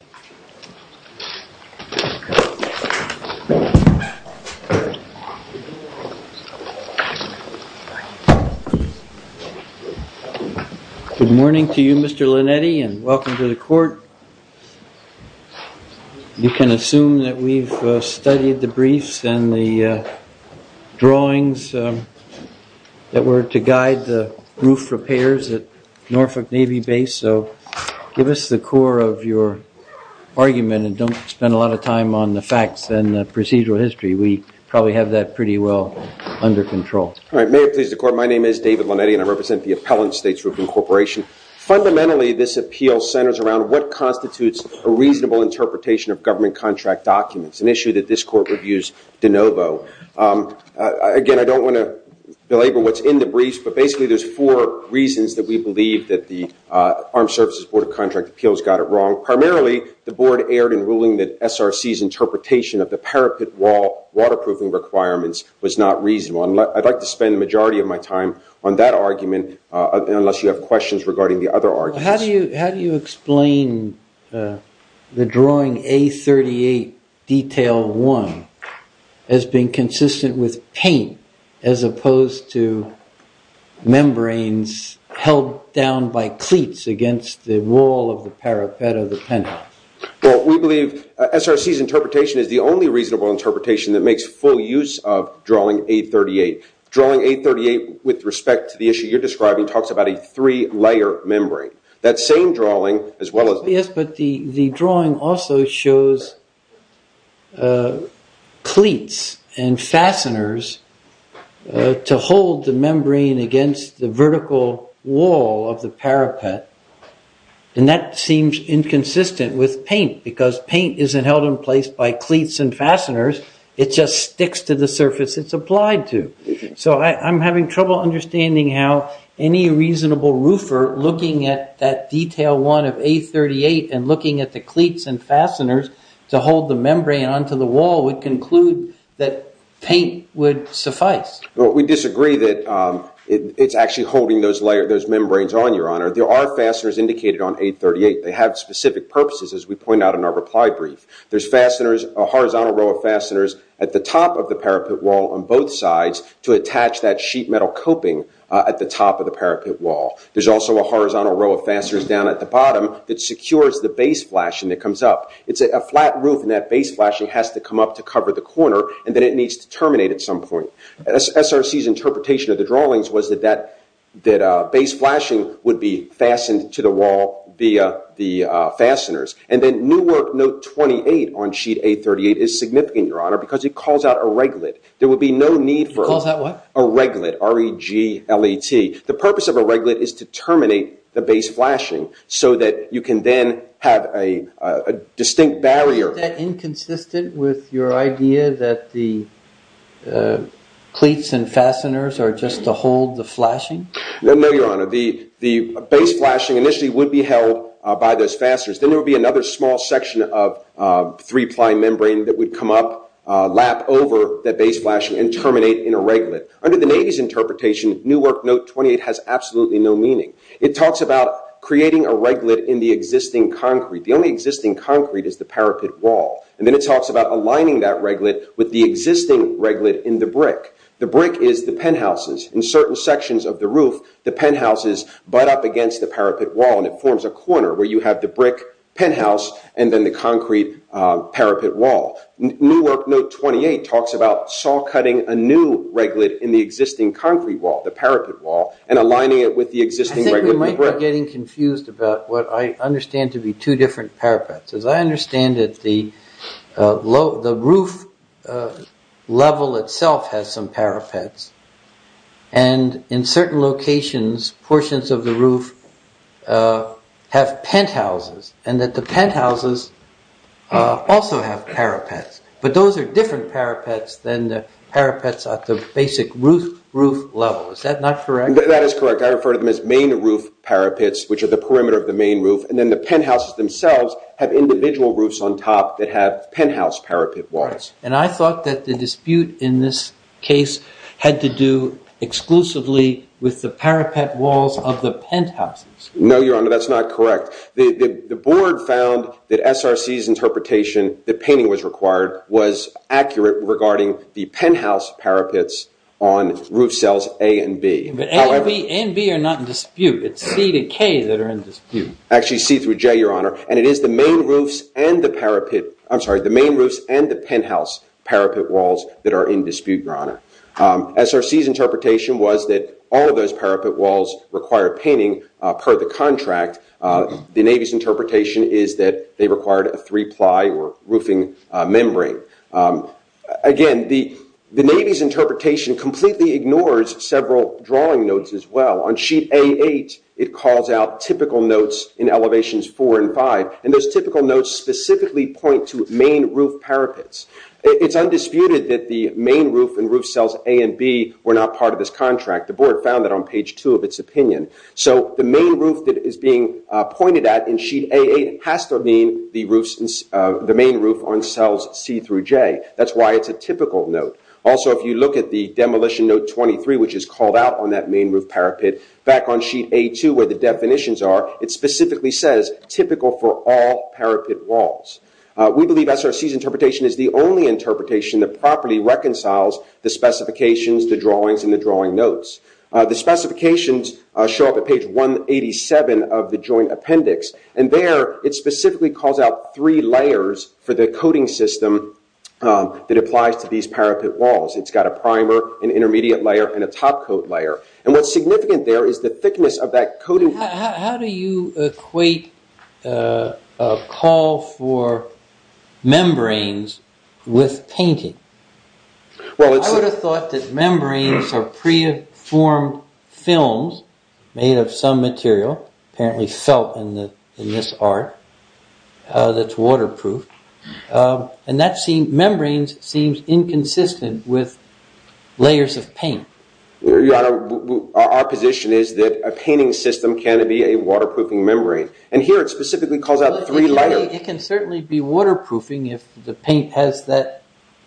Good morning to you Mr. Linetti and welcome to the court. You can assume that we've studied the briefs and the drawings that were to guide the roof repairs at Norfolk Navy Base so give us the core of your argument and don't spend a lot of time on the facts and the procedural history. We probably have that pretty well under control. All right may it please the court my name is David Linetti and I represent the Appellant States Roofing Corporation. Fundamentally this appeal centers around what constitutes a reasonable interpretation of government contract documents, an issue that this court reviews de novo. Again I don't want to belabor what's in the briefs but basically there's four reasons that we believe that the Armed Services Board of Contract Appeals got it wrong. Primarily the board erred in ruling that SRC's interpretation of the parapet wall waterproofing requirements was not reasonable. I'd like to spend the majority of my time on that argument unless you have questions regarding the other arguments. How do you explain the drawing A38 detail 1 as being consistent with paint as opposed to membranes held down by cleats against the wall of the parapet of the penthouse? Well we believe SRC's interpretation is the only reasonable interpretation that makes full use of drawing A38. Drawing A38 with respect to the issue you're describing talks about a three-layer membrane. That same drawing as well as yes but the the drawing also shows cleats and fasteners to hold the membrane against the vertical wall of the parapet and that seems inconsistent with paint because paint isn't held in place by cleats and fasteners it just sticks to the surface it's applied to. So I'm having trouble understanding how any reasonable roofer looking at that detail 1 of A38 and looking at the cleats and fasteners to hold the membrane onto the wall would conclude that paint would suffice. Well we disagree that it's actually holding those layer those membranes on your honor. There are fasteners indicated on A38. They have specific purposes as we point out in our reply brief. There's fasteners a horizontal row of fasteners at the top of the parapet wall on both sides to attach that sheet metal coping at the top of the parapet wall. There's also a horizontal row of fasteners down at the bottom that secures the base flashing that comes up. It's a flat roof and that base flashing has to come up to cover the corner and then it needs to terminate at some point. SRC's interpretation of the drawings was that that that base flashing would be fastened to the wall via the fasteners and then Newark note 28 on sheet A38 is significant your honor because it calls out a reglet. There the purpose of a reglet is to terminate the base flashing so that you can then have a distinct barrier. Is that inconsistent with your idea that the cleats and fasteners are just to hold the flashing? No your honor the the base flashing initially would be held by those fasteners then there would be another small section of three-ply membrane that would come up lap over that base flashing and terminate in a reglet. Under the Navy's interpretation Newark note 28 has absolutely no meaning. It talks about creating a reglet in the existing concrete. The only existing concrete is the parapet wall and then it talks about aligning that reglet with the existing reglet in the brick. The brick is the penthouses. In certain sections of the roof the penthouses butt up against the parapet wall and it forms a corner where you have the brick penthouse and then the concrete parapet wall. Newark note 28 talks about saw cutting a new reglet in the existing concrete wall the parapet wall and aligning it with the existing reglet in the brick. I think we might be getting confused about what I understand to be two different parapets. As I understand it the low the roof level itself has some parapets and in certain locations portions of the roof have penthouses and that the penthouses also have parapets. But those are different parapets than the parapets at the basic roof level. Is that not correct? That is correct. I refer to them as main roof parapets which are the perimeter of the main roof and then the penthouses themselves have individual roofs on top that have penthouse parapet walls. And I thought that the dispute in this case had to do exclusively with the parapet walls of the penthouses. No your honor that's not correct. The board found that SRC's interpretation that painting was required was accurate regarding the penthouse parapets on roof cells A and B. But A and B are not in dispute. It's C to K that are in dispute. Actually C through J your honor and it is the main roofs and the parapet I'm sorry the main roofs and the penthouse parapet walls that are in dispute your honor. SRC's interpretation was that all of those parapet walls require painting per the contract. The Navy's interpretation is that they required a three ply or roofing membrane. Again the Navy's interpretation completely ignores several drawing notes as well. On sheet A8 it calls out typical notes in elevations four and five and those typical notes specifically point to main roof parapets. It's undisputed that the main roof that is being pointed at in sheet A8 has to mean the main roof on cells C through J. That's why it's a typical note. Also if you look at the demolition note 23 which is called out on that main roof parapet back on sheet A2 where the definitions are it specifically says typical for all parapet walls. We believe SRC's interpretation is the only interpretation that properly reconciles the specifications, the drawings, and the drawing notes. The specifications show up at page 187 of the joint appendix and there it specifically calls out three layers for the coating system that applies to these parapet walls. It's got a primer, an intermediate layer, and a top coat layer. And what's significant there is the thickness of that coating. How do you equate a call for membranes with painting? I would have thought that membranes are pre-formed films made of some material, apparently felt in this art, that's waterproof. And membranes seem inconsistent with layers of paint. Your Honor, our position is that a painting system can be a waterproofing membrane. And here it specifically calls out three layers. It can certainly be waterproofing if the paint has that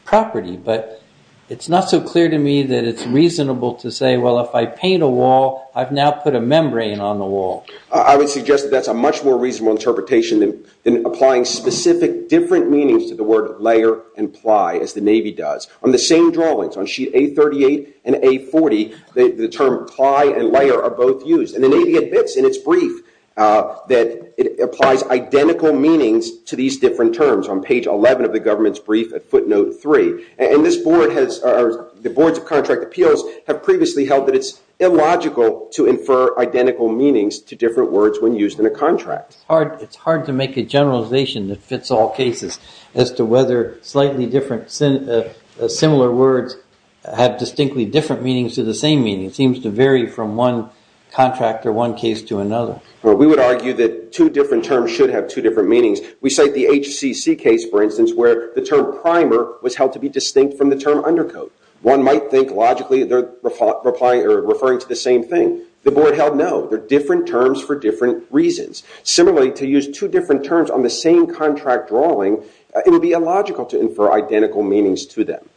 property, but it's not so clear to me that it's reasonable to say well if I paint a wall I've now put a membrane on the wall. I would suggest that's a much more reasonable interpretation than applying specific different meanings to the word layer and ply as the Navy does. On the same drawings, on sheet A38 and A40, the term ply and layer are both used. And the Navy admits in its brief that it applies identical meanings to these different terms on page 11 of the government's brief at footnote 3. And this board has, the boards of contract appeals have previously held that it's illogical to infer identical meanings to different words when used in a contract. It's hard to make a generalization that fits all cases as to whether slightly different similar words have distinctly different meanings to the same meaning. It seems to vary from one contract or one case to another. Well, we would argue that two different terms should have two different meanings. We cite the HCC case, for instance, where the term primer was held to be distinct from the term undercoat. One might think logically they're referring to the same thing. The board held no. They're different terms for different reasons. Similarly, to use two different terms on the same contract drawing, it would be illogical to infer identical meanings to them.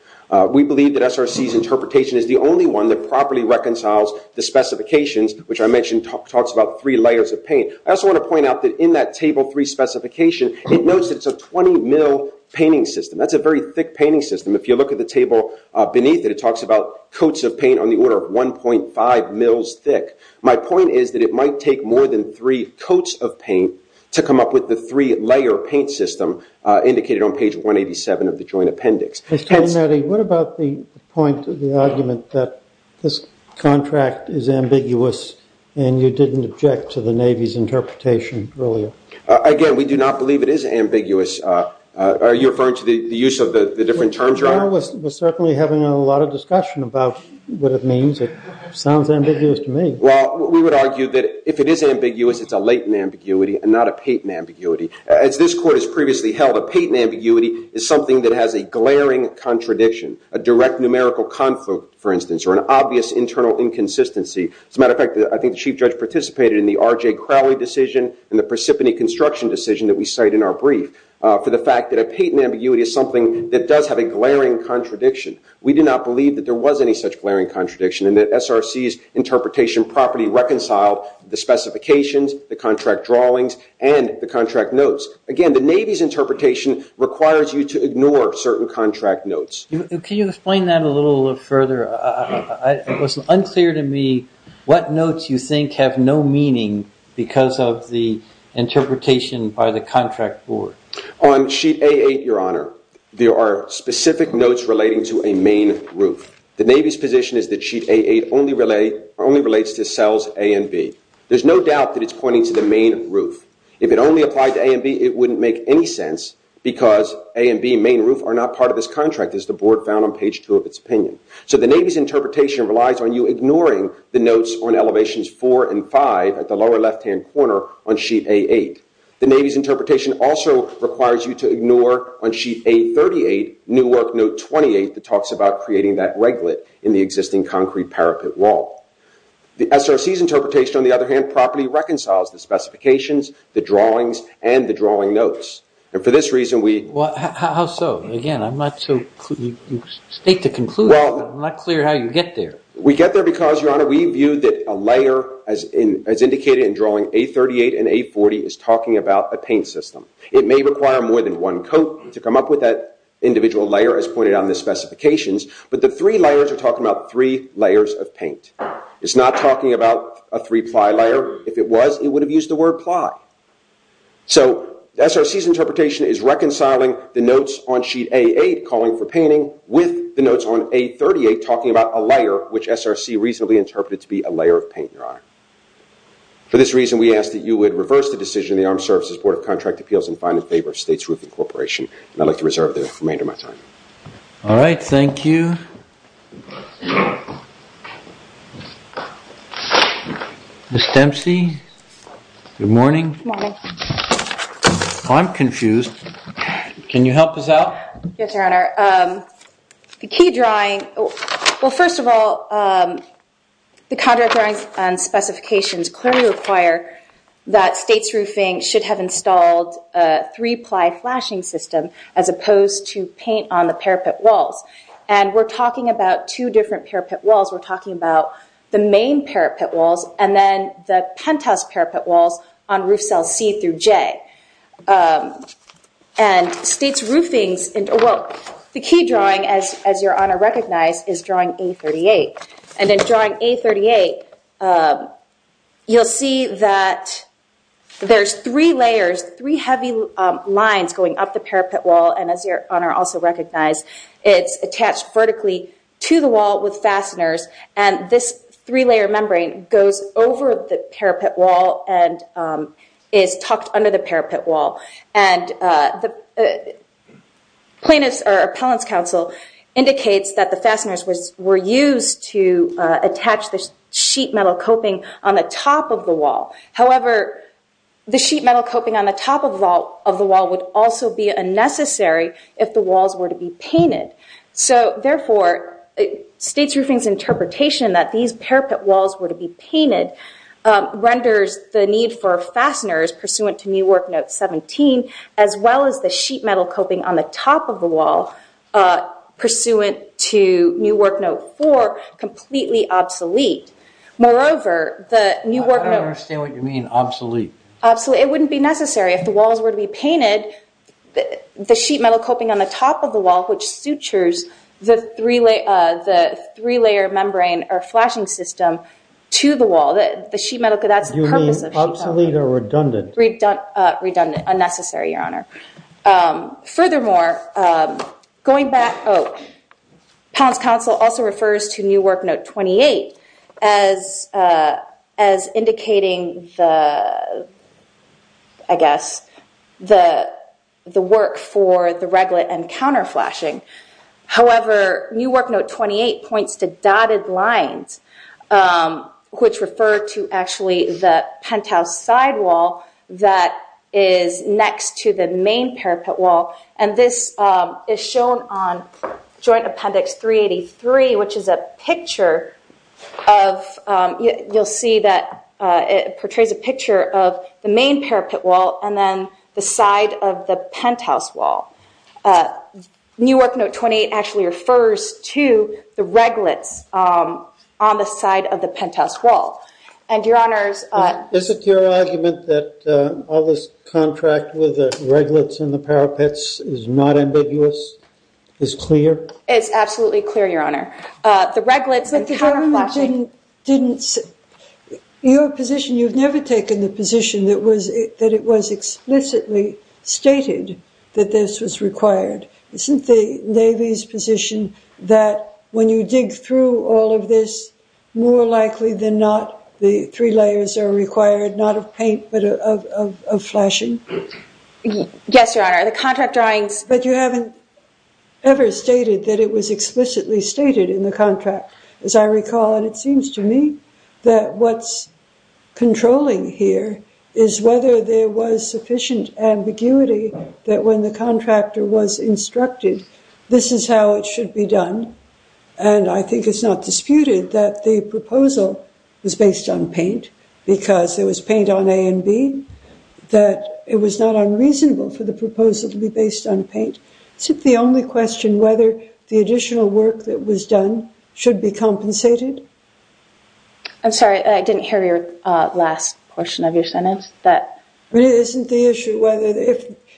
We believe that SRC's interpretation is the only one that properly reconciles the specifications, which I mentioned talks about three layers of paint. I also want to point out that in that table three specification, it notes that it's a 20 mil painting system. That's a very thick painting system. If you look at the table beneath it, it talks about coats of paint on the order of 1.5 mils thick. My point is that it might take more than three coats of paint to come up with the three-layer paint system indicated on page 187 of the joint appendix. Mr. Meddy, what about the point of the argument that this contract is ambiguous and you didn't object to the Navy's interpretation earlier? Again, we do not believe it is ambiguous. Are you referring to the use of the different terms? Your Honor, we're certainly having a lot of discussion about what it means. It sounds ambiguous to me. Well, we would argue that if it is ambiguous, it's a Layton ambiguity and not a Payton ambiguity. As this court has previously held, a Payton ambiguity is something that has a glaring contradiction, a direct numerical conflict, for instance, or an obvious internal inconsistency. As a matter of fact, I think the Chief Judge participated in the R.J. Crowley decision and the Precipice Construction decision that we cite in our brief for the fact that a Payton ambiguity is something that does have a glaring contradiction. We do not believe that there was any such glaring contradiction and that SRC's interpretation properly reconciled the specifications, the contract drawings, and the contract notes. Again, the Navy's interpretation requires you to ignore certain contract notes. Can you explain that a little further? It was unclear to me what notes you think have no meaning because of the interpretation by the contract board. On Sheet A8, Your Honor, there are specific notes relating to a main roof. The Navy's position is that Sheet A8 only relates to cells A and B. There's no doubt that it's pointing to the main roof. If it only applied to A and B, it wouldn't make any sense because A and B, main roof, are not part of this contract as the board found on page 2 of its opinion. So the Navy's interpretation relies on you ignoring the notes on Elevations 4 and 5 at the lower left-hand corner on Sheet A8. The Navy's interpretation also requires you to ignore on Sheet A38 Newark Note 28 that talks about creating that reglet in the existing concrete parapet wall. The SRC's interpretation, on the other hand, properly reconciles the specifications, the drawings, and the drawing notes. And for this reason, we... Well, how so? Again, I'm not so... You state the conclusion, but I'm not clear how you get there. We get there because, Your Honor, we view that a layer, as indicated in drawing A38 and A40, is talking about a paint system. It may require more than one coat to come up with that individual layer as pointed out in the specifications, but the three layers are talking about three layers of paint. It's not talking about a three-ply layer. If it was, it would have used the word ply. So, SRC's interpretation is reconciling the notes on Sheet A8 calling for painting with the notes on A38 talking about a layer, which SRC reasonably interpreted to be a layer of paint, Your Honor. For this reason, we ask that you would reverse the decision of the Armed Services Board of Contract Appeals and find in favor of State's Roofing Corporation. And I'd like to reserve the remainder of my time. All right, thank you. Ms. Dempsey, good morning. Good morning. I'm confused. Can you help us out? Yes, Your Honor. The key drawing... Well, first of all, the contract drawings and specifications clearly require that State's Roofing should have installed a three-ply flashing system as opposed to paint on the parapet walls. And we're talking about two different parapet walls. We're talking about the main parapet walls and then the penthouse parapet walls on roof cells C through J. And State's roofing... Well, the key drawing, as Your Honor recognized, is drawing A38. And in drawing A38, you'll see that there's three layers, three heavy lines going up the parapet wall. And as Your Honor also recognized, it's attached vertically to the wall with fasteners. And this three-layer membrane goes over the parapet wall and is tucked under the parapet wall. And the plaintiff's or appellant's counsel indicates that the fasteners were used to attach the sheet metal coping on the top of the wall. However, the sheet metal coping on the top of the wall would also be unnecessary if the walls were to be painted. So, therefore, State's Roofing's interpretation that these parapet walls were to be painted renders the need for fasteners pursuant to New Work Note 17, as well as the sheet metal coping on the top of the wall pursuant to New Work Note 4, completely obsolete. Moreover, the New Work Note... I don't understand what you mean, obsolete. It wouldn't be necessary if the walls were to be painted. The sheet metal coping on the top of the wall, which sutures the three-layer membrane or flashing system to the wall. The sheet metal... Do you mean obsolete or redundant? Furthermore, appellant's counsel also refers to New Work Note 28 as indicating, I guess, the work for the reglet and counter flashing. However, New Work Note 28 points to dotted lines, which refer to actually the penthouse side wall that is next to the main parapet wall. And this is shown on Joint Appendix 383, which is a picture of... You'll see that it portrays a picture of the main parapet wall and then the side of the penthouse wall. New Work Note 28 actually refers to the reglets on the side of the penthouse wall. And, Your Honors... Is it your argument that all this contract with the reglets and the parapets is not ambiguous, is clear? It's absolutely clear, Your Honor. The reglets and counter flashing... Your position... You've never taken the position that it was explicitly stated that this was required. Isn't the Navy's position that when you dig through all of this, more likely than not the three layers are required, not of paint but of flashing? Yes, Your Honor. The contract drawings... But you haven't ever stated that it was explicitly stated in the contract, as I recall. And it seems to me that what's controlling here is whether there was sufficient ambiguity that when the contractor was instructed, this is how it should be done. And I think it's not disputed that the proposal was based on paint because there was paint on A and B, that it was not unreasonable for the proposal to be based on paint. Is it the only question whether the additional work that was done should be compensated? I'm sorry, I didn't hear your last portion of your sentence. But isn't the issue whether...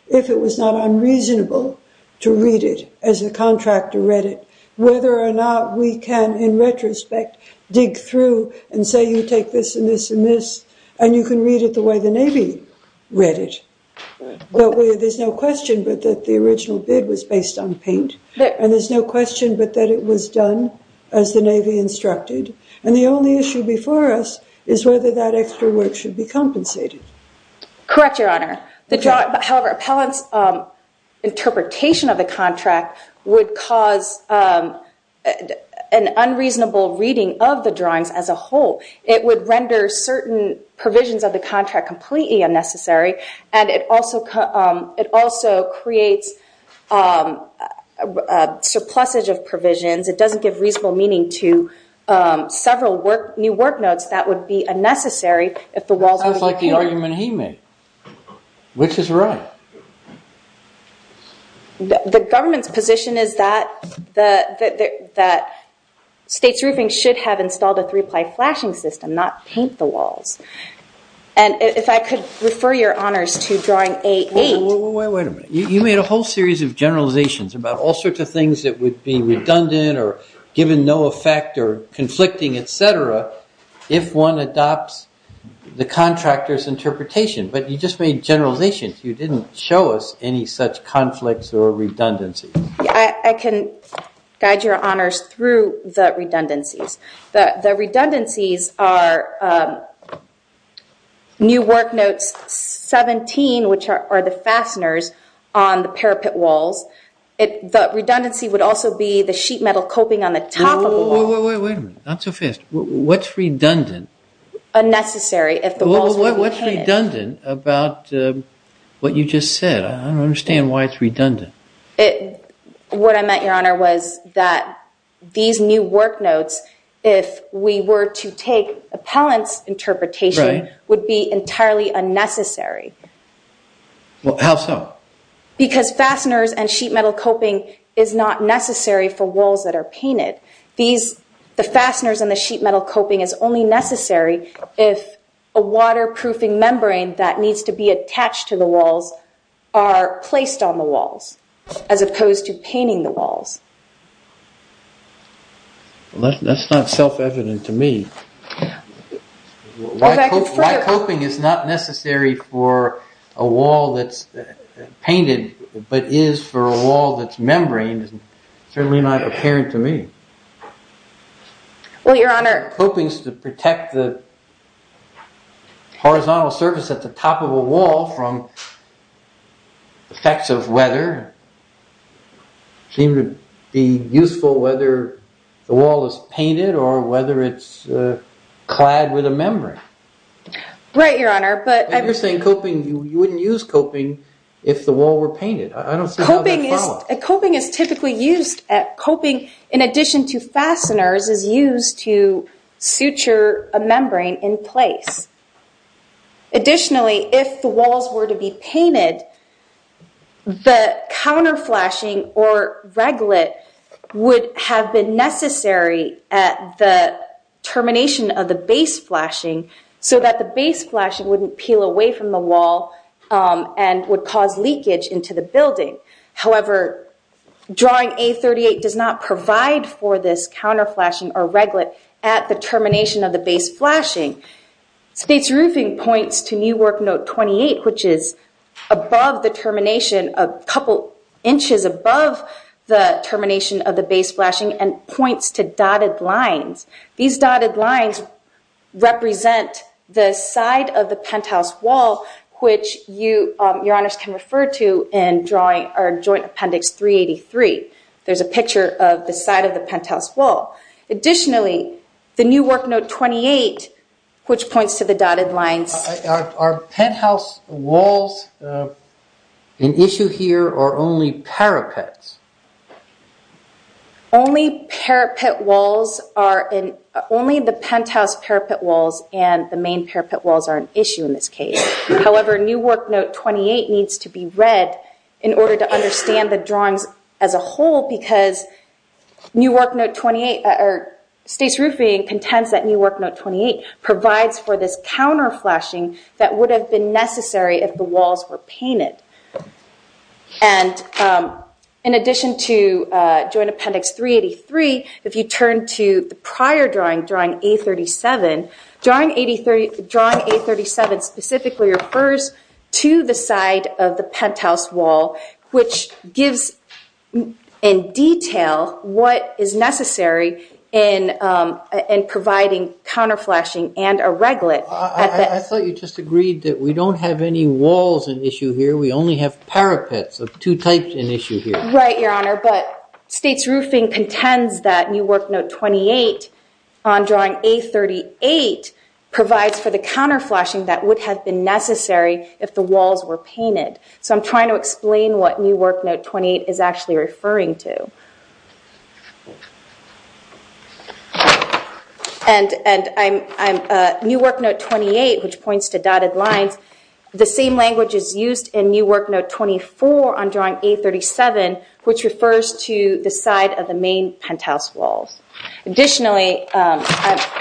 If it was not unreasonable to read it as the contractor read it, whether or not we can, in retrospect, dig through and say you take this and this and this and you can read it the way the Navy read it. There's no question but that the original bid was based on paint. And there's no question but that it was done as the Navy instructed. And the only issue before us is whether that extra work should be compensated. Correct, Your Honor. However, appellant's interpretation of the contract would cause an unreasonable reading of the drawings as a whole. It would render certain provisions of the contract completely unnecessary and it also creates a surplusage of provisions. It doesn't give reasonable meaning to several new work notes that would be unnecessary if the walls... That sounds like the argument he made, which is right. The government's position is that state's roofing should have installed a three-ply flashing system, not paint the walls. And if I could refer your honors to drawing A8... Wait a minute. You made a whole series of generalizations about all sorts of things that would be redundant or given no effect or conflicting, et cetera, if one adopts the contractor's interpretation. But you just made generalizations. You didn't show us any such conflicts or redundancies. I can guide your honors through the redundancies. The redundancies are new work notes 17, which are the fasteners on the parapet walls. The redundancy would also be the sheet metal coping on the top of the wall. Wait a minute. Not so fast. What's redundant? Unnecessary if the walls were painted. What's redundant about what you just said? I don't understand why it's redundant. What I meant, your honor, was that these new work notes, if we were to take appellant's interpretation, would be entirely unnecessary. How so? Because fasteners and sheet metal coping is not necessary for walls that are painted. The fasteners and the sheet metal coping is only necessary if a waterproofing membrane that needs to be attached to the walls are placed on the walls, as opposed to painting the walls. That's not self-evident to me. Why coping is not necessary for a wall that's painted but is for a wall that's membraned is certainly not apparent to me. Well, your honor. Copings to protect the horizontal surface at the top of a wall from effects of weather seem to be useful whether the wall is painted or whether it's clad with a membrane. Right, your honor. You're saying you wouldn't use coping if the wall were painted. Coping is typically used, in addition to fasteners, is used to suture a membrane in place. Additionally, if the walls were to be painted, the counter flashing or reglet would have been necessary at the termination of the base flashing, so that the base flashing wouldn't peel away from the wall and would cause leakage into the building. However, drawing A38 does not provide for this counter flashing or reglet at the termination of the base flashing. State's roofing points to New Work Note 28, which is a couple inches above the termination of the base flashing and points to dotted lines. These dotted lines represent the side of the penthouse wall, which your honors can refer to in Joint Appendix 383. There's a picture of the side of the penthouse wall. Additionally, the New Work Note 28, which points to the dotted lines. Are penthouse walls an issue here or only parapets? Only the penthouse parapet walls and the main parapet walls are an issue in this case. However, New Work Note 28 needs to be read in order to understand the drawings as a whole, because State's roofing contends that New Work Note 28 provides for this counter flashing that would have been necessary if the walls were painted. In addition to Joint Appendix 383, if you turn to the prior drawing, drawing A37, drawing A37 specifically refers to the side of the penthouse wall, which gives in detail what is necessary in providing counter flashing and a reglet. I thought you just agreed that we don't have any walls an issue here. We only have parapets of two types an issue here. Right, your honor, but State's roofing contends that New Work Note 28 on drawing A38 provides for the counter flashing that would have been necessary if the walls were painted. So I'm trying to explain what New Work Note 28 is actually referring to. And New Work Note 28, which points to dotted lines, the same language is used in New Work Note 24 on drawing A37, which refers to the side of the main penthouse walls. Additionally,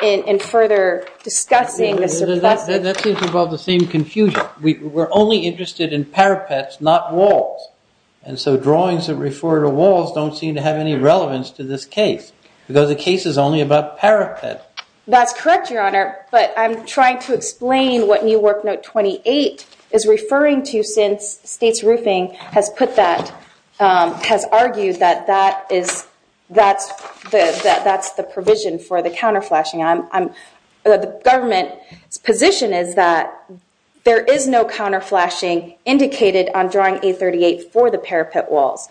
in further discussing the... That seems to involve the same confusion. We're only interested in parapets, not walls. And so drawings that refer to walls don't seem to have any relevance to this case because the case is only about parapet. That's correct, your honor, but I'm trying to explain what New Work Note 28 is referring to since State's roofing has put that, has argued that that is, that's the provision for the counter flashing. The government's position is that there is no counter flashing indicated on drawing A38 for the parapet walls.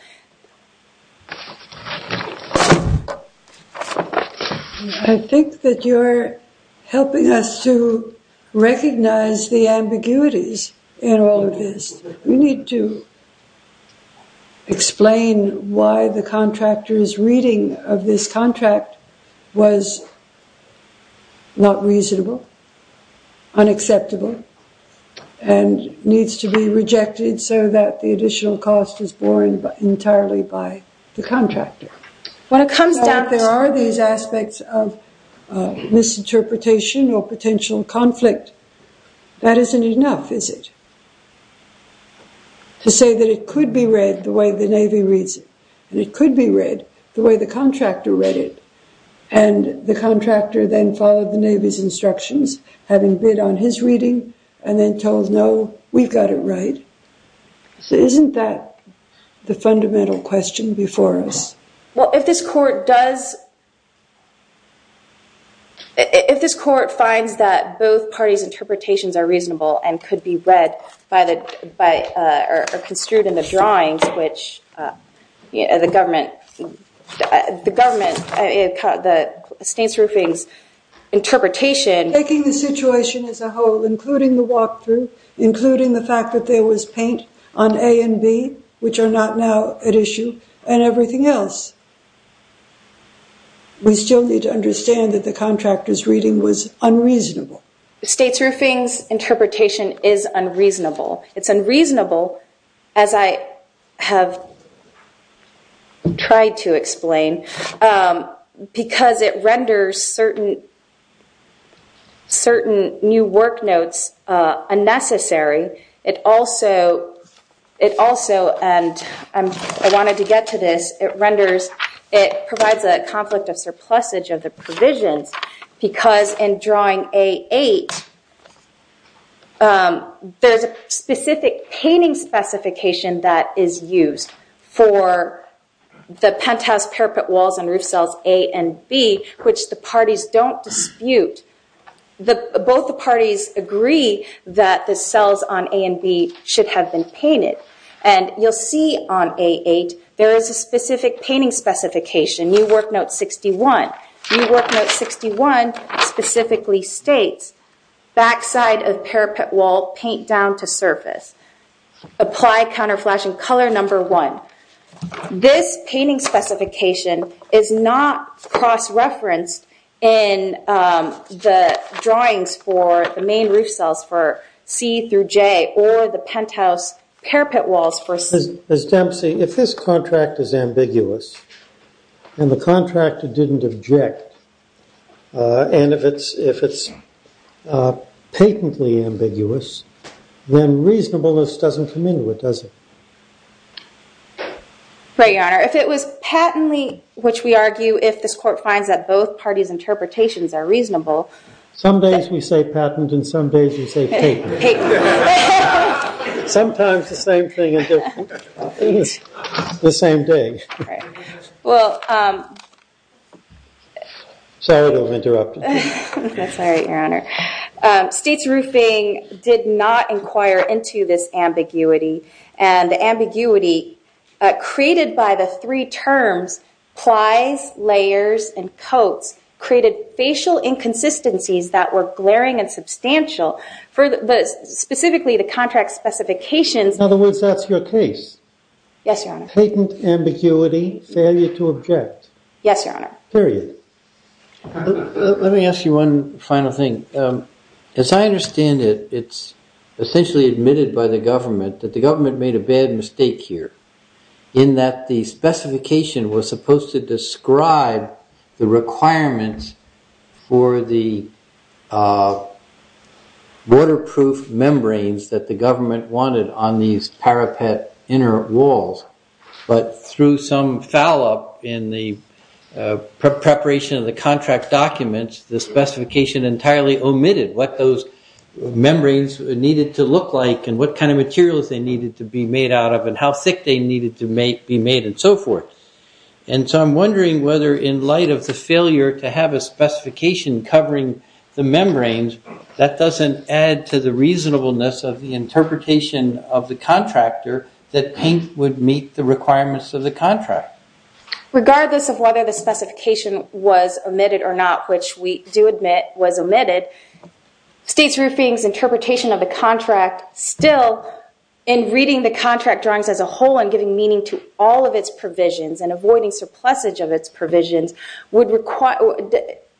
I think that you're helping us to recognize the ambiguities in all of this. We need to explain why the contractor's reading of this contract was not reasonable, unacceptable, and needs to be rejected so that the additional cost is borne entirely by the contractor. When it comes down... There are these aspects of misinterpretation or potential conflict. That isn't enough, is it? To say that it could be read the way the Navy reads it, and it could be read the way the contractor read it, and the contractor then followed the Navy's instructions, having bid on his reading, and then told, no, we've got it right. So isn't that the fundamental question before us? Well, if this court does... If this court finds that both parties' interpretations are reasonable and could be read by, or construed in the drawings, which the government, the State's roofing's interpretation... Taking the situation as a whole, including the walkthrough, including the fact that there was paint on A and B, which are not now at issue, and everything else, we still need to understand that the contractor's reading was unreasonable. The State's roofing's interpretation is unreasonable. It's unreasonable, as I have tried to explain, because it renders certain new work notes unnecessary. It also, and I wanted to get to this, it renders, it provides a conflict of surplusage of the provisions, because in drawing A8, there's a specific painting specification that is used for the penthouse, parapet walls, and roof cells A and B, which the parties don't dispute. Both the parties agree that the cells on A and B should have been painted. And you'll see on A8, there is a specific painting specification, new work note 61. New work note 61 specifically states, backside of parapet wall, paint down to surface. Apply counter flashing color number one. This painting specification is not cross-referenced in the drawings for the main roof cells for C through J, or the penthouse parapet walls for C. Ms. Dempsey, if this contract is ambiguous, and the contractor didn't object, and if it's patently ambiguous, then reasonableness doesn't come into it, does it? Right, Your Honor. If it was patently, which we argue, if this court finds that both parties' interpretations are reasonable. Some days we say patent, and some days we say paper. Paper. Sometimes the same thing. The same day. Well. Sorry to have interrupted you. That's all right, Your Honor. States roofing did not inquire into this ambiguity. And the ambiguity created by the three terms, plies, layers, and coats, created facial inconsistencies that were glaring and substantial for specifically the contract specifications. In other words, that's your case? Yes, Your Honor. Patent, ambiguity, failure to object. Yes, Your Honor. Period. Let me ask you one final thing. As I understand it, it's essentially admitted by the government that the government made a bad mistake here, in that the specification was supposed to describe the requirements for the waterproof membranes that the government wanted on these parapet inner walls. But through some foul-up in the preparation of the contract documents, the specification entirely omitted what those membranes needed to look like and what kind of materials they needed to be made out of and how thick they needed to be made and so forth. And so I'm wondering whether in light of the failure to have a specification covering the membranes, that doesn't add to the reasonableness of the interpretation of the contractor that paint would meet the requirements of the contract. Regardless of whether the specification was omitted or not, which we do admit was omitted, States Roofing's interpretation of the contract still, in reading the contract drawings as a whole and giving meaning to all of its provisions and avoiding surplusage of its provisions,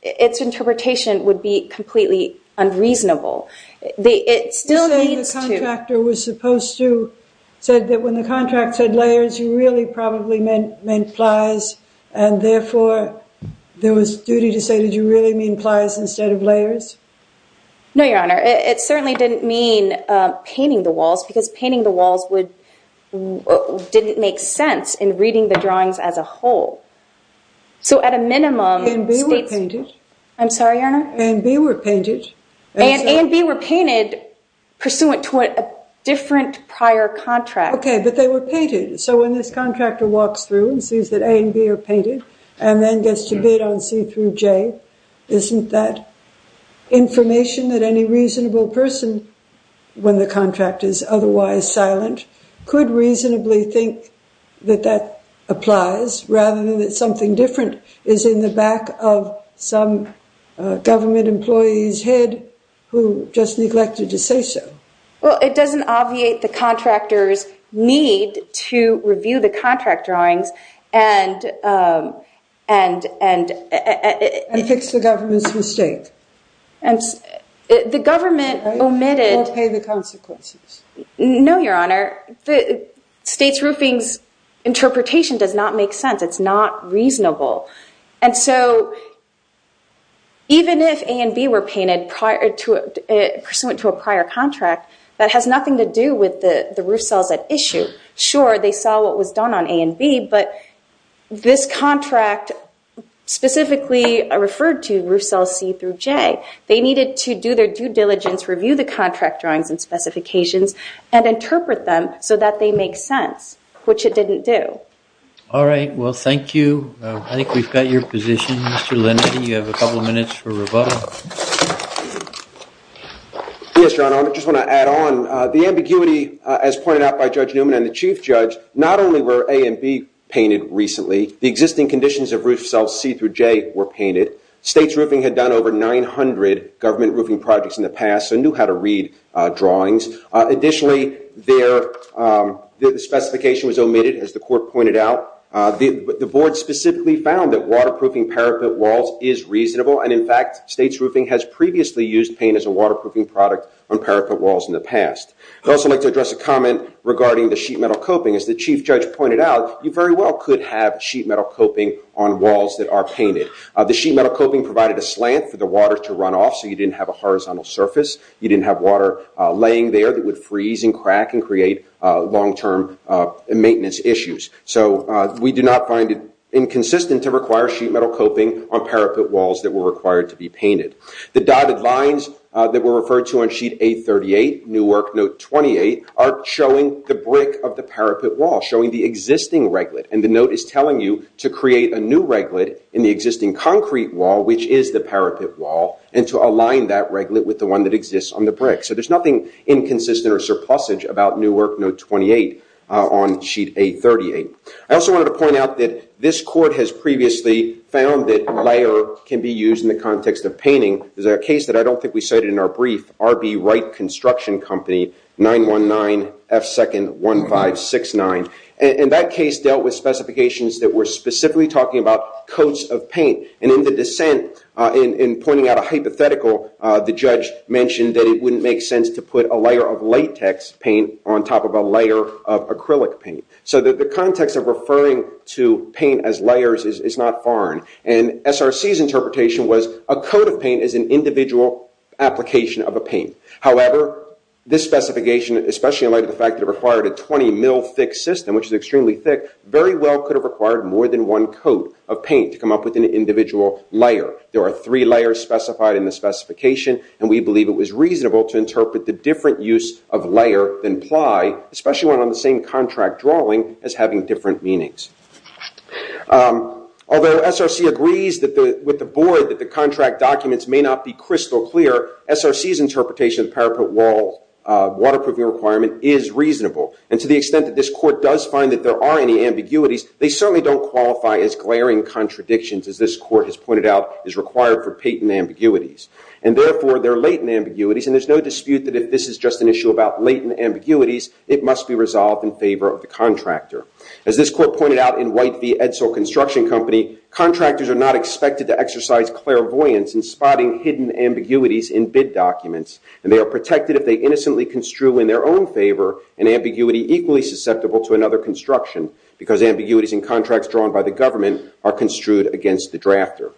its interpretation would be completely unreasonable. It still needs to... You're saying the contractor was supposed to, said that when the contract said layers, you really probably meant plies, and therefore there was duty to say, did you really mean plies instead of layers? No, Your Honor. It certainly didn't mean painting the walls because painting the walls didn't make sense in reading the drawings as a whole. So at a minimum... A and B were painted. I'm sorry, Your Honor? A and B were painted. A and B were painted pursuant to a different prior contract. Okay, but they were painted. So when this contractor walks through and sees that A and B are painted and then gets to bid on C through J, isn't that information that any reasonable person, when the contract is otherwise silent, could reasonably think that that applies rather than that something different is in the back of some government employee's head who just neglected to say so? Well, it doesn't obviate the contractor's need to review the contract drawings and... And fix the government's mistake. The government omitted... Or pay the consequences. No, Your Honor. State's roofing's interpretation does not make sense. It's not reasonable. And so even if A and B were painted pursuant to a prior contract, that has nothing to do with the roof cells at issue. Sure, they saw what was done on A and B, but this contract specifically referred to roof cells C through J. They needed to do their due diligence, review the contract drawings and specifications, and interpret them so that they make sense, which it didn't do. All right, well, thank you. I think we've got your position, Mr. Linetti. You have a couple of minutes for rebuttal. Yes, Your Honor, I just want to add on. The ambiguity, as pointed out by Judge Newman and the Chief Judge, not only were A and B painted recently, the existing conditions of roof cells C through J were painted. State's roofing had done over 900 government roofing projects in the past and knew how to read drawings. Additionally, the specification was omitted, as the court pointed out. The board specifically found that waterproofing parapet walls is reasonable, and in fact State's roofing has previously used paint as a waterproofing product on parapet walls in the past. I'd also like to address a comment regarding the sheet metal coping. As the Chief Judge pointed out, you very well could have sheet metal coping on walls that are painted. The sheet metal coping provided a slant for the water to run off, so you didn't have a horizontal surface. You didn't have water laying there that would freeze and crack and create long-term maintenance issues. So we do not find it inconsistent to require sheet metal coping on parapet walls that were required to be painted. The dotted lines that were referred to on sheet 838, Newark Note 28, are showing the brick of the parapet wall, showing the existing reglet. And the note is telling you to create a new reglet in the existing concrete wall, which is the parapet wall, and to align that reglet with the one that exists on the brick. So there's nothing inconsistent or surplusage about Newark Note 28 on sheet 838. I also wanted to point out that this court has previously found that layer can be used in the context of painting. There's a case that I don't think we cited in our brief, R.B. Wright Construction Company, 919 F. 2nd 1569. And that case dealt with specifications that were specifically talking about coats of paint. And in the dissent, in pointing out a hypothetical, the judge mentioned that it wouldn't make sense to put a layer of latex paint on top of a layer of acrylic paint. So the context of referring to paint as layers is not foreign. And SRC's interpretation was a coat of paint is an individual application of a paint. However, this specification, especially in light of the fact that it required a 20-mil thick system, which is extremely thick, very well could have required more than one coat of paint to come up with an individual layer. There are three layers specified in the specification, and we believe it was reasonable to interpret the different use of layer than ply, especially when on the same contract drawing, as having different meanings. Although SRC agrees with the board that the contract documents may not be crystal clear, SRC's interpretation of the parapet wall waterproofing requirement is reasonable. And to the extent that this court does find that there are any ambiguities, they certainly don't qualify as glaring contradictions, as this court has pointed out, is required for patent ambiguities. And therefore, there are latent ambiguities, and there's no dispute that if this is just an issue about latent ambiguities, it must be resolved in favor of the contractor. As this court pointed out in White v. Edsel Construction Company, contractors are not expected to exercise clairvoyance in spotting hidden ambiguities in bid documents, and they are protected if they innocently construe in their own favor an ambiguity equally susceptible to another construction, because ambiguities in contracts drawn by the government are construed against the drafter.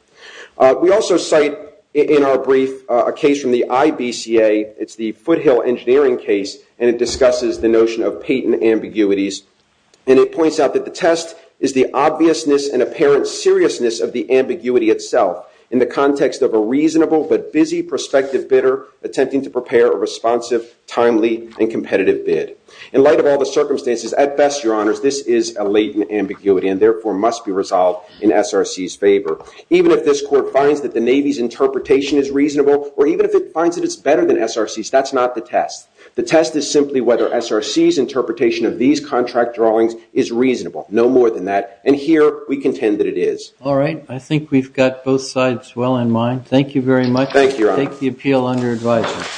We also cite in our brief a case from the IBCA. It's the Foothill Engineering case, and it discusses the notion of patent ambiguities. And it points out that the test is the obviousness and apparent seriousness of the ambiguity itself in the context of a reasonable but busy prospective bidder attempting to prepare a responsive, timely, and competitive bid. In light of all the circumstances, at best, Your Honors, this is a latent ambiguity and therefore must be resolved in SRC's favor. Even if this court finds that the Navy's interpretation is reasonable or even if it finds that it's better than SRC's, that's not the test. The test is simply whether SRC's interpretation of these contract drawings is reasonable. No more than that. And here, we contend that it is. All right. I think we've got both sides well in mind. Thank you very much. Thank you, Your Honors. Take the appeal under advisement.